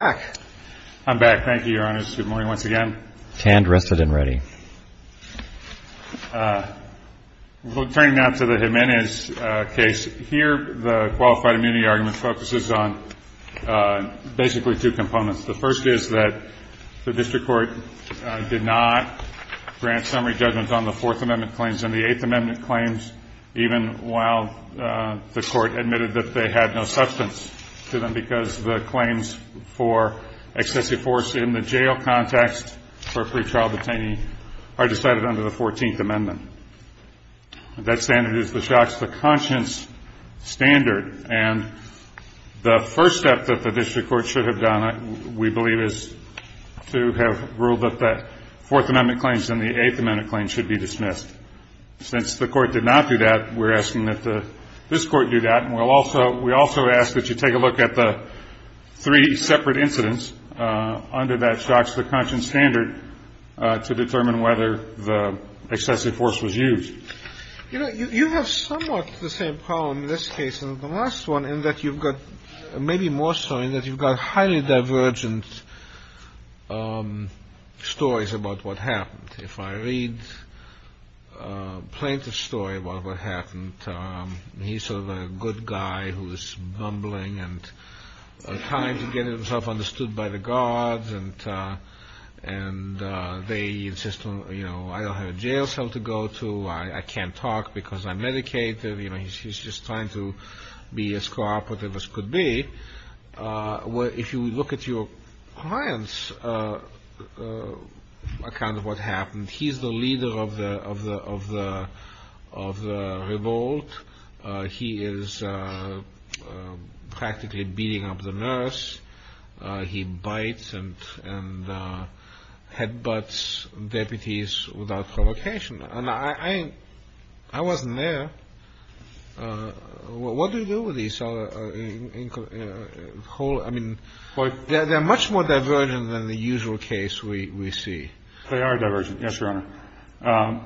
I'm back. Thank you, Your Honor. Good morning once again. Tanned, rested, and ready. Turning now to the Jimenez case, here the qualified immunity argument focuses on basically two components. The first is that the District Court did not grant summary judgments on the Fourth Amendment claims and the Eighth Amendment claims, even while the Court admitted that they had no substance to them because the claims for excessive force in the jail context for pretrial detainee are decided under the Fourteenth Amendment. That standard is the Shocks to Conscience standard. And the first step that the District Court should have done, we believe, is to have ruled that the Fourth Amendment claims and the Eighth Amendment claims should be dismissed. Since the Court did not do that, we're asking that this Court do that. And we also ask that you take a look at the three separate incidents under that Shocks to Conscience standard to determine whether the excessive force was used. You know, you have somewhat the same problem in this case as the last one in that you've got, maybe more so in that you've got highly divergent stories about what happened. If I read a plaintiff's story about what happened, he's sort of a good guy who's mumbling and trying to get himself understood by the guards. And they insist on, you know, I don't have a jail cell to go to, I can't talk because I'm medicated. You know, he's just trying to be as cooperative as could be. If you look at your client's account of what happened, he's the leader of the revolt. He is practically beating up the nurse. He bites and headbutts deputies without provocation. And I wasn't there. What do you do with these? I mean, they're much more divergent than the usual case we see. They are divergent. Yes, Your Honor.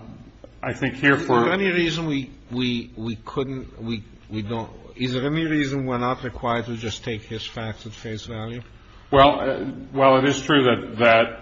I think here for any reason we couldn't, we don't. Is there any reason we're not required to just take his facts at face value? Well, it is true that,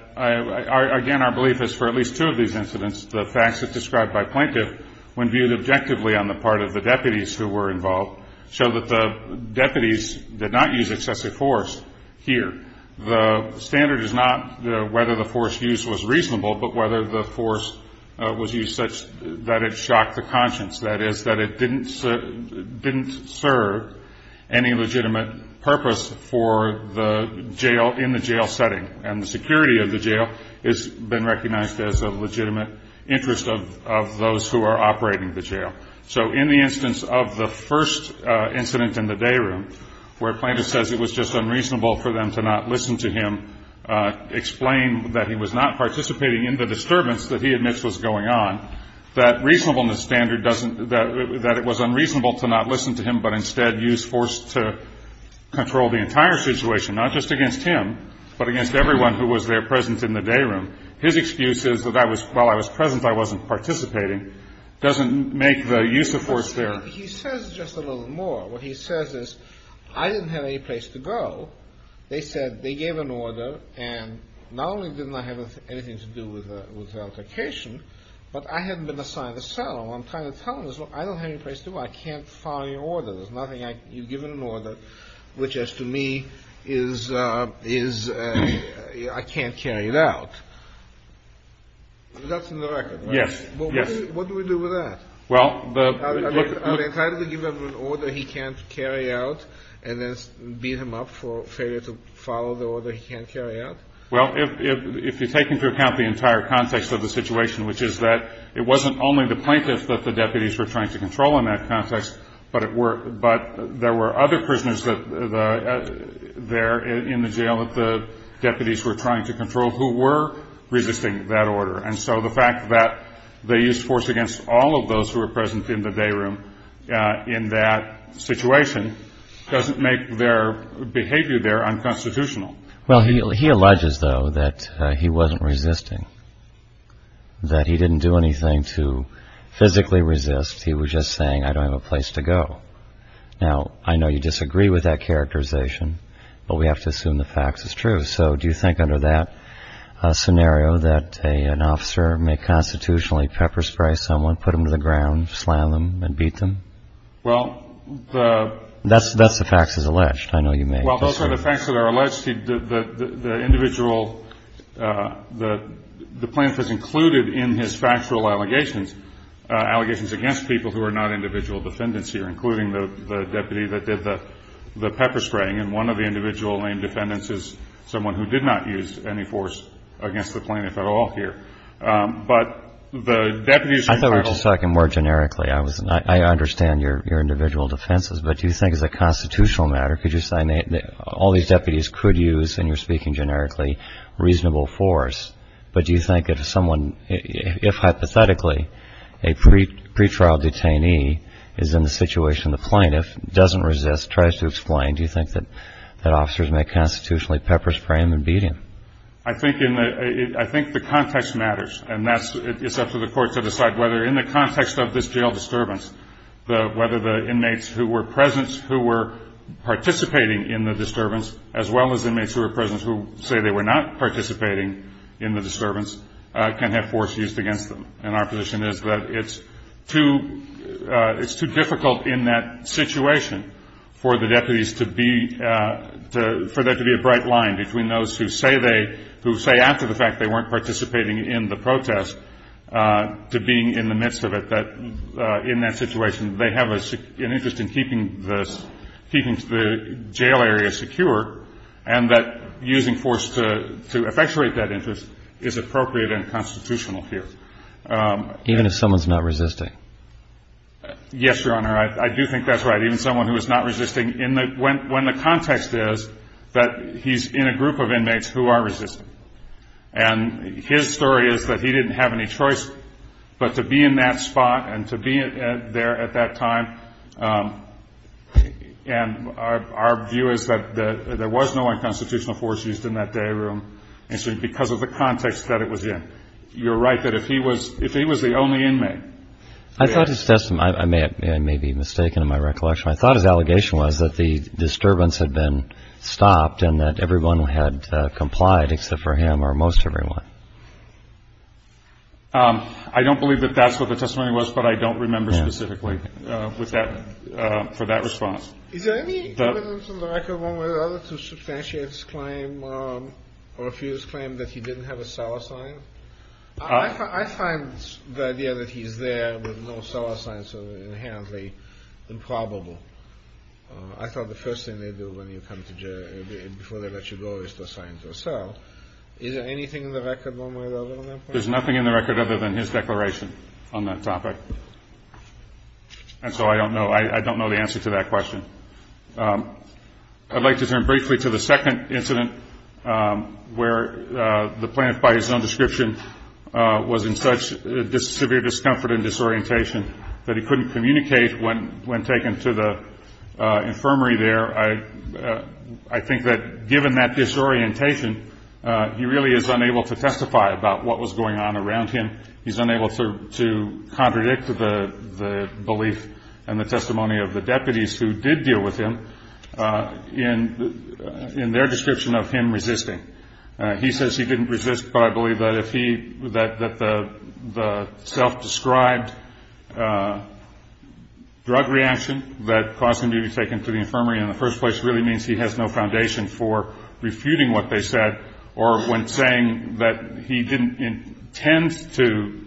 again, our belief is for at least two of these incidents, the facts that's described by plaintiff when viewed objectively on the part of the deputies who were involved, show that the deputies did not use excessive force here. The standard is not whether the force used was reasonable, but whether the force was used such that it shocked the conscience, that is that it didn't serve any legitimate purpose for the jail in the jail setting. And the security of the jail has been recognized as a legitimate interest of those who are operating the jail. So in the instance of the first incident in the day room, where plaintiff says it was just unreasonable for them to not listen to him, explain that he was not participating in the disturbance that he admits was going on, that reasonableness standard doesn't, that it was unreasonable to not listen to him, but instead use force to control the entire situation, not just against him, but against everyone who was there present in the day room. His excuse is that I was, while I was present, I wasn't participating, doesn't make the use of force there. He says just a little more. What he says is, I didn't have any place to go. They said, they gave an order, and not only didn't I have anything to do with the altercation, but I hadn't been assigned a cell. All I'm trying to tell him is, well, I don't have any place to go. I can't follow your order. There's nothing I, you've given an order, which as to me is, is, I can't carry it out. That's in the record, right? Yes. What do we do with that? Well, the. Are they entitled to give him an order he can't carry out, and then beat him up for failure to follow the order he can't carry out? Well, if you take into account the entire context of the situation, which is that it wasn't only the plaintiffs that the deputies were trying to control in that context, but there were other prisoners there in the jail that the deputies were trying to control who were resisting that order. And so the fact that they used force against all of those who were present in the day room in that situation doesn't make their behavior there unconstitutional. Well, he alleges, though, that he wasn't resisting, that he didn't do anything to physically resist. He was just saying, I don't have a place to go. Now, I know you disagree with that characterization, but we have to assume the facts is true. So do you think under that scenario that an officer may constitutionally pepper spray someone, put them to the ground, slam them and beat them? Well, the. That's the facts is alleged. I know you may disagree. Well, those are the facts that are alleged. The individual, the plaintiff is included in his factual allegations, allegations against people who are not individual defendants here, including the deputy that did the pepper spraying. And one of the individual named defendants is someone who did not use any force against the plaintiff at all here. But the deputies. I thought we were just talking more generically. I understand your individual defenses. But do you think as a constitutional matter, could you say all these deputies could use, and you're speaking generically, reasonable force? But do you think if someone, if hypothetically a pretrial detainee is in the situation the plaintiff doesn't resist, tries to explain, do you think that officers may constitutionally pepper spray him and beat him? I think the context matters. And it's up to the court to decide whether in the context of this jail disturbance, whether the inmates who were present who were participating in the disturbance, as well as inmates who were present who say they were not participating in the disturbance, can have force used against them. And our position is that it's too difficult in that situation for the deputies to be, for there to be a bright line between those who say they, who say after the fact they weren't participating in the protest, to being in the midst of it, that in that situation they have an interest in keeping the jail area secure, and that using force to effectuate that interest is appropriate and constitutional here. Even if someone's not resisting? Yes, Your Honor. I do think that's right, even someone who is not resisting, when the context is that he's in a group of inmates who are resisting. And his story is that he didn't have any choice but to be in that spot and to be there at that time. And our view is that there was no unconstitutional force used in that day room because of the context that it was in. You're right that if he was the only inmate. I thought his testimony, I may be mistaken in my recollection, I thought his allegation was that the disturbance had been stopped and that everyone had complied except for him or most everyone. I don't believe that that's what the testimony was, but I don't remember specifically for that response. Is there any evidence in the record, one way or another, to substantiate his claim or refute his claim that he didn't have a cellar sign? I find the idea that he's there with no cellar signs inherently improbable. I thought the first thing they do before they let you go is to assign you a cell. Is there anything in the record, one way or another, on that point? There's nothing in the record other than his declaration on that topic. And so I don't know the answer to that question. I'd like to turn briefly to the second incident where the plaintiff, by his own description, was in such severe discomfort and disorientation that he couldn't communicate when taken to the infirmary there. I think that given that disorientation, he really is unable to testify about what was going on around him. He's unable to contradict the belief and the testimony of the deputies who did deal with him in their description of him resisting. He says he didn't resist, but I believe that the self-described drug reaction that caused him to be taken to the infirmary in the first place really means he has no foundation for refuting what they said, or when saying that he didn't intend to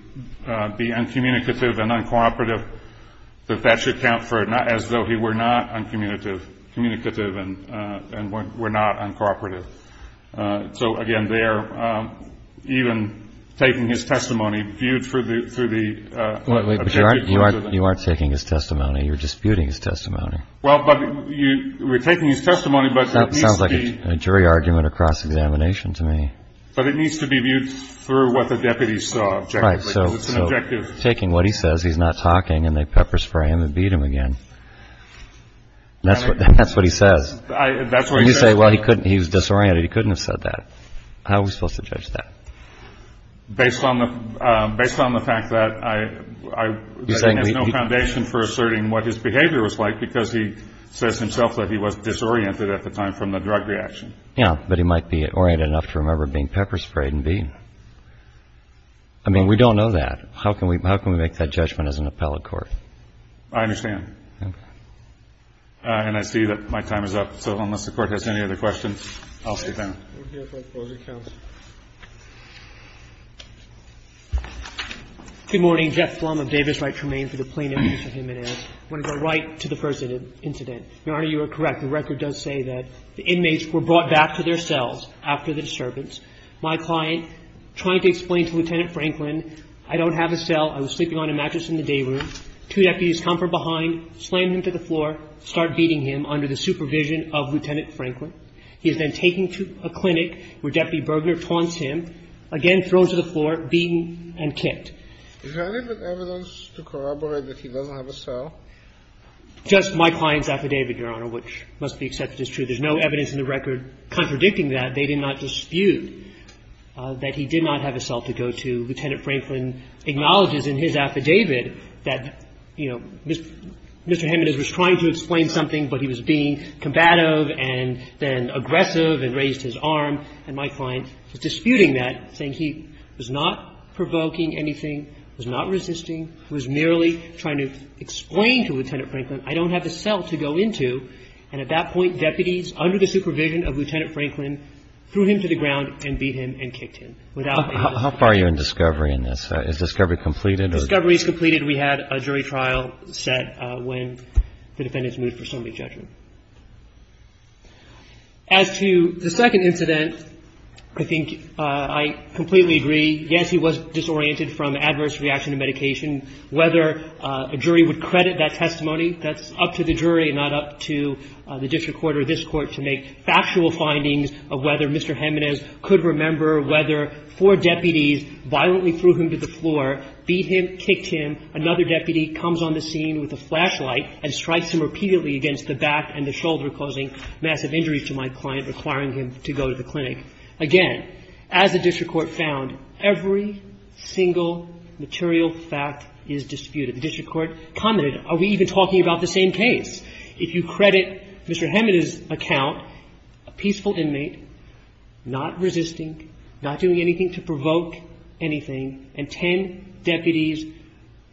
be uncommunicative and uncooperative, that that should count as though he were not uncommunicative and were not uncooperative. So, again, there, even taking his testimony, viewed through the objective... But you aren't taking his testimony. You're disputing his testimony. Well, but we're taking his testimony, but it needs to be... That sounds like a jury argument or cross-examination to me. But it needs to be viewed through what the deputies saw objectively. Right, so taking what he says, he's not talking, and they pepper spray him and beat him again. That's what he says. You say, well, he was disoriented. He couldn't have said that. How are we supposed to judge that? Based on the fact that I think there's no foundation for asserting what his behavior was like because he says himself that he was disoriented at the time from the drug reaction. Yeah, but he might be oriented enough to remember being pepper sprayed and beaten. I mean, we don't know that. How can we make that judgment as an appellate court? I understand. And I see that my time is up. So unless the Court has any other questions, I'll see you then. We'll hear from the closing counsel. Good morning. Jeff Flum of Davis. I remain for the plaintiff. I want to go right to the first incident. Your Honor, you are correct. The record does say that the inmates were brought back to their cells after the disturbance. My client, trying to explain to Lieutenant Franklin, I don't have a cell. I was sleeping on a mattress in the day room. Two deputies come from behind, slam him to the floor, start beating him under the supervision of Lieutenant Franklin. He is then taken to a clinic where Deputy Bergener taunts him, again thrown to the floor, beaten and kicked. Is there any evidence to corroborate that he doesn't have a cell? Just my client's affidavit, Your Honor, which must be accepted as true. There's no evidence in the record contradicting that. They did not dispute that he did not have a cell to go to. Lieutenant Franklin acknowledges in his affidavit that, you know, Mr. Jimenez was trying to explain something, but he was being combative and then aggressive and raised his arm. And my client was disputing that, saying he was not provoking anything, was not resisting, was merely trying to explain to Lieutenant Franklin, I don't have a cell to go into. And at that point, deputies, under the supervision of Lieutenant Franklin, threw him to the ground and beat him and kicked him. Without being able to prove anything. How far are you in discovery in this? Is discovery completed? Discovery is completed. We had a jury trial set when the defendants moved for summary judgment. As to the second incident, I think I completely agree. Yes, he was disoriented from adverse reaction to medication. Whether a jury would credit that testimony, that's up to the jury and not up to the district court or this Court to make factual findings of whether Mr. Jimenez could remember whether four deputies violently threw him to the floor, beat him, kicked him. Another deputy comes on the scene with a flashlight and strikes him repeatedly against the back and the shoulder, causing massive injuries to my client, requiring him to go to the clinic. Again, as the district court found, every single material fact is disputed. The district court commented, are we even talking about the same case? If you credit Mr. Jimenez's account, a peaceful inmate, not resisting, not doing anything to provoke anything, and ten deputies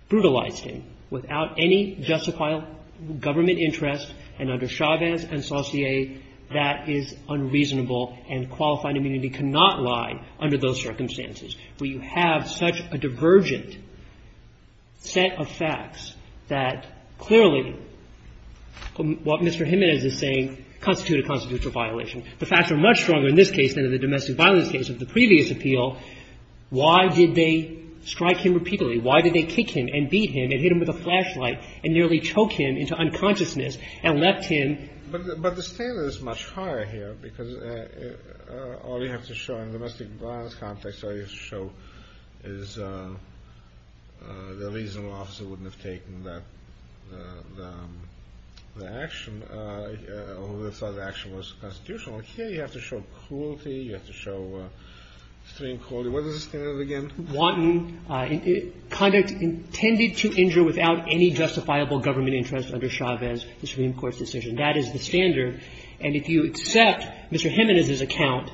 brutalized him without any justified government interest and under Chavez and Saucier, that is unreasonable and qualified immunity cannot lie under those circumstances. Do you have such a divergent set of facts that clearly what Mr. Jimenez is saying constitutes a constitutional violation. The facts are much stronger in this case than in the domestic violence case of the previous appeal. Why did they strike him repeatedly? Why did they kick him and beat him and hit him with a flashlight and nearly choke him into unconsciousness and left him ---- You have to show cruelty, you have to show extreme cruelty. What is the standard again? Conduct intended to injure without any justifiable government interest under Chavez, the Supreme Court's decision. That is the standard. And if you accept Mr. Jimenez's account,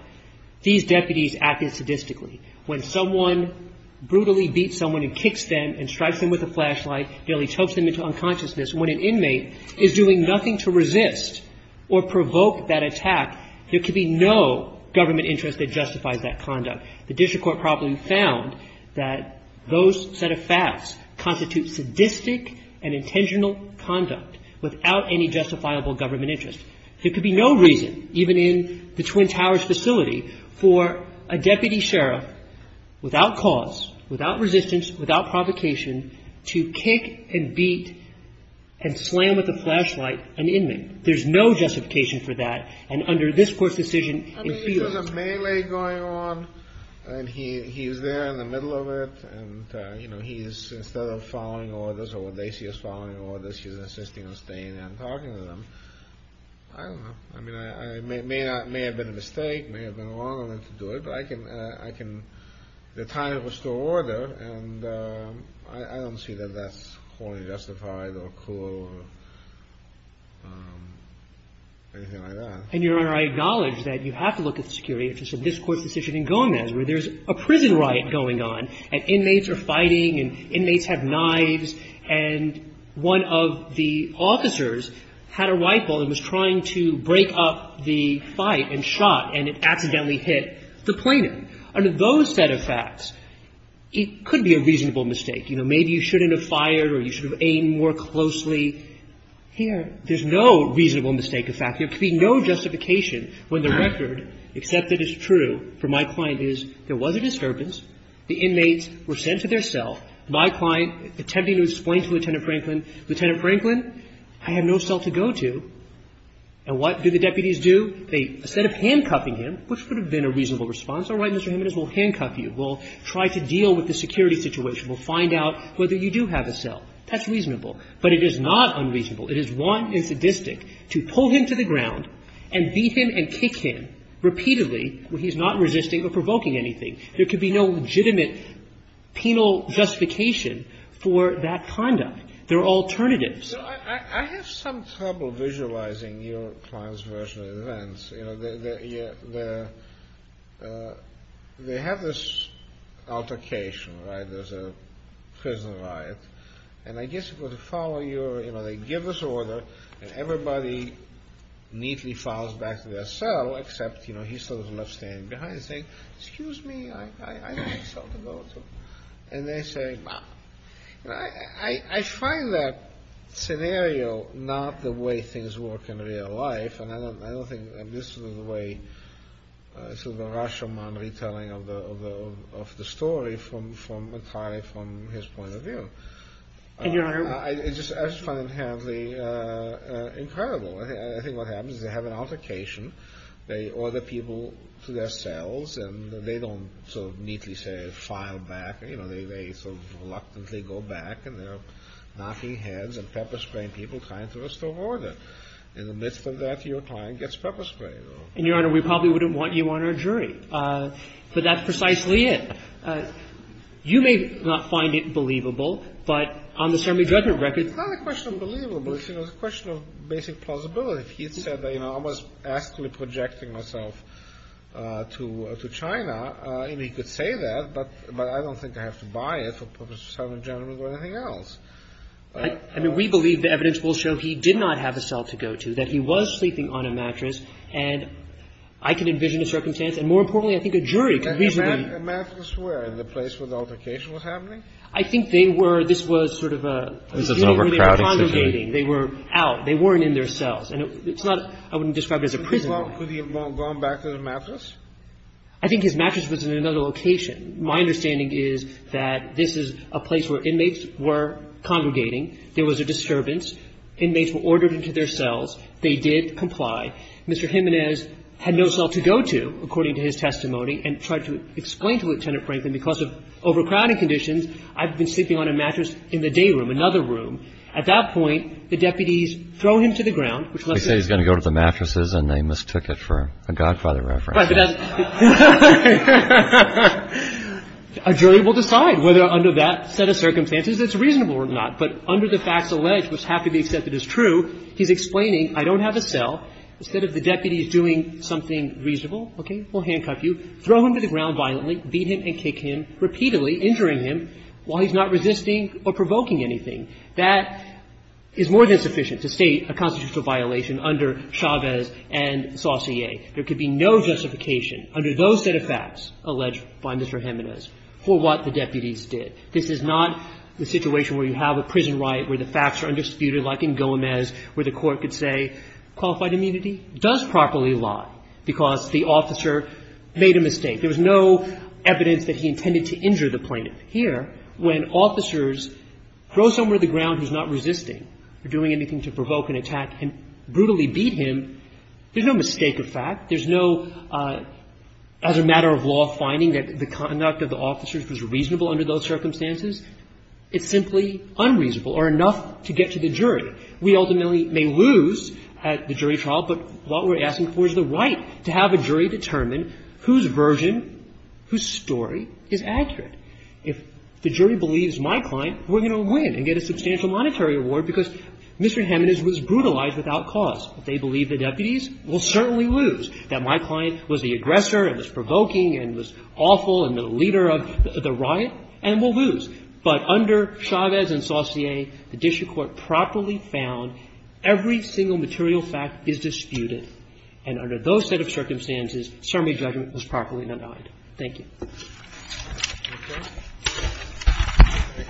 these deputies acted sadistically. When someone brutally beats someone and kicks them and strikes them with a flashlight, nearly chokes them into unconsciousness, when an inmate is doing nothing to resist or provoke that attack, there can be no government interest that justifies that conduct. The district court probably found that those set of facts constitute sadistic and intentional conduct without any justifiable government interest. There could be no reason, even in the Twin Towers facility, for a deputy sheriff without cause, without resistance, without provocation, to kick and beat and slam with a flashlight an inmate. There's no justification for that. And under this Court's decision, it feels ---- I mean, if there's a melee going on and he's there in the middle of it and, you know, he's, instead of following orders or what they see as following orders, he's insisting and talking to them, I don't know. I mean, it may have been a mistake. It may have been wrong of him to do it. But I can ---- the time was still order, and I don't see that that's wholly justified or cruel or anything like that. And, Your Honor, I acknowledge that you have to look at the security interests of this Court's decision in Gomez, where there's a prison riot going on and inmates are fighting and inmates have knives, and one of the officers had a rifle and was trying to break up the fight and shot, and it accidentally hit the plaintiff. Under those set of facts, it could be a reasonable mistake. You know, maybe you shouldn't have fired or you should have aimed more closely here. There's no reasonable mistake of fact. There could be no justification when the record, except that it's true, for my client is there was a disturbance. The inmates were sent to their cell. My client, attempting to explain to Lieutenant Franklin, Lieutenant Franklin, I have no cell to go to. And what do the deputies do? They, instead of handcuffing him, which would have been a reasonable response, all right, Mr. Jimenez, we'll handcuff you. We'll try to deal with the security situation. We'll find out whether you do have a cell. That's reasonable. But it is not unreasonable. It is wanton and sadistic to pull him to the ground and beat him and kick him repeatedly when he's not resisting or provoking anything. There could be no legitimate penal justification for that conduct. There are alternatives. I have some trouble visualizing your client's version of events. You know, they have this altercation, right? There's a prison riot. And I guess it would follow your, you know, they give this order and everybody neatly follows back to their cell, except, you know, he sort of left standing behind saying, excuse me, I have a cell to go to. And they say, well, you know, I find that scenario not the way things work in real life. And I don't think this is the way, sort of the Rashomon retelling of the story from a client, from his point of view. I just find it inherently incredible. I think what happens is they have an altercation. They order people to their cells and they don't sort of neatly say, file back. You know, they sort of reluctantly go back and they're knocking heads and pepper spraying people trying to restore order. In the midst of that, your client gets pepper sprayed. And, Your Honor, we probably wouldn't want you on our jury. But that's precisely it. You may not find it believable, but on the summary judgment record. It's not a question of believability. It's a question of basic plausibility. If he had said that, you know, I was actually projecting myself to China, and he could say that, but I don't think I have to buy it for purpose of summary judgment or anything else. I mean, we believe the evidence will show he did not have a cell to go to, that he was sleeping on a mattress. And I can envision a circumstance. And more importantly, I think a jury could reasonably. Kennedy. And a mattress where? In the place where the altercation was happening? I think they were. This was sort of a scene where they were congregating. They were out. They weren't in their cells. And it's not – I wouldn't describe it as a prison. Could he have gone back to the mattress? I think his mattress was in another location. My understanding is that this is a place where inmates were congregating. There was a disturbance. Inmates were ordered into their cells. They did comply. Mr. Jimenez had no cell to go to, according to his testimony, and tried to explain to Lieutenant Franklin, because of overcrowding conditions, I've been sleeping on a mattress in the day room, another room. At that point, the deputies throw him to the ground. They say he's going to go to the mattresses, and they mistook it for a Godfather reference. A jury will decide whether under that set of circumstances it's reasonable or not. But under the facts alleged, which have to be accepted as true, he's explaining I don't have a cell. Instead of the deputies doing something reasonable, okay, we'll handcuff you, throw him to the ground violently, beat him and kick him, repeatedly injuring him while he's not resisting or provoking anything. That is more than sufficient to state a constitutional violation under Chavez and Saucier. There could be no justification under those set of facts alleged by Mr. Jimenez for what the deputies did. This is not the situation where you have a prison riot, where the facts are undisputed like in Gomez, where the court could say qualified immunity does properly lie because the officer made a mistake. There was no evidence that he intended to injure the plaintiff. Here, when officers throw someone to the ground who's not resisting or doing anything to provoke an attack and brutally beat him, there's no mistake of fact. There's no other matter of law finding that the conduct of the officers was reasonable under those circumstances. It's simply unreasonable or enough to get to the jury. We ultimately may lose at the jury trial, but what we're asking for is the right to have a jury determine whose version, whose story is accurate. If the jury believes my client, we're going to win and get a substantial monetary award because Mr. Jimenez was brutalized without cause. If they believe the deputies, we'll certainly lose. That my client was the aggressor and was provoking and was awful and the leader of the riot, and we'll lose. But under Chavez and Saucier, the district court properly found every single material fact is disputed. And under those set of circumstances, summary judgment was properly denied. Thank you. Thank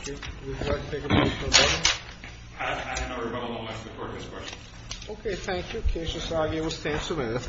you. Would you like to take a motion on that? I don't know if we're going to allow the Court to ask a question. Okay. Thank you. The case is argued. We'll stand for a minute.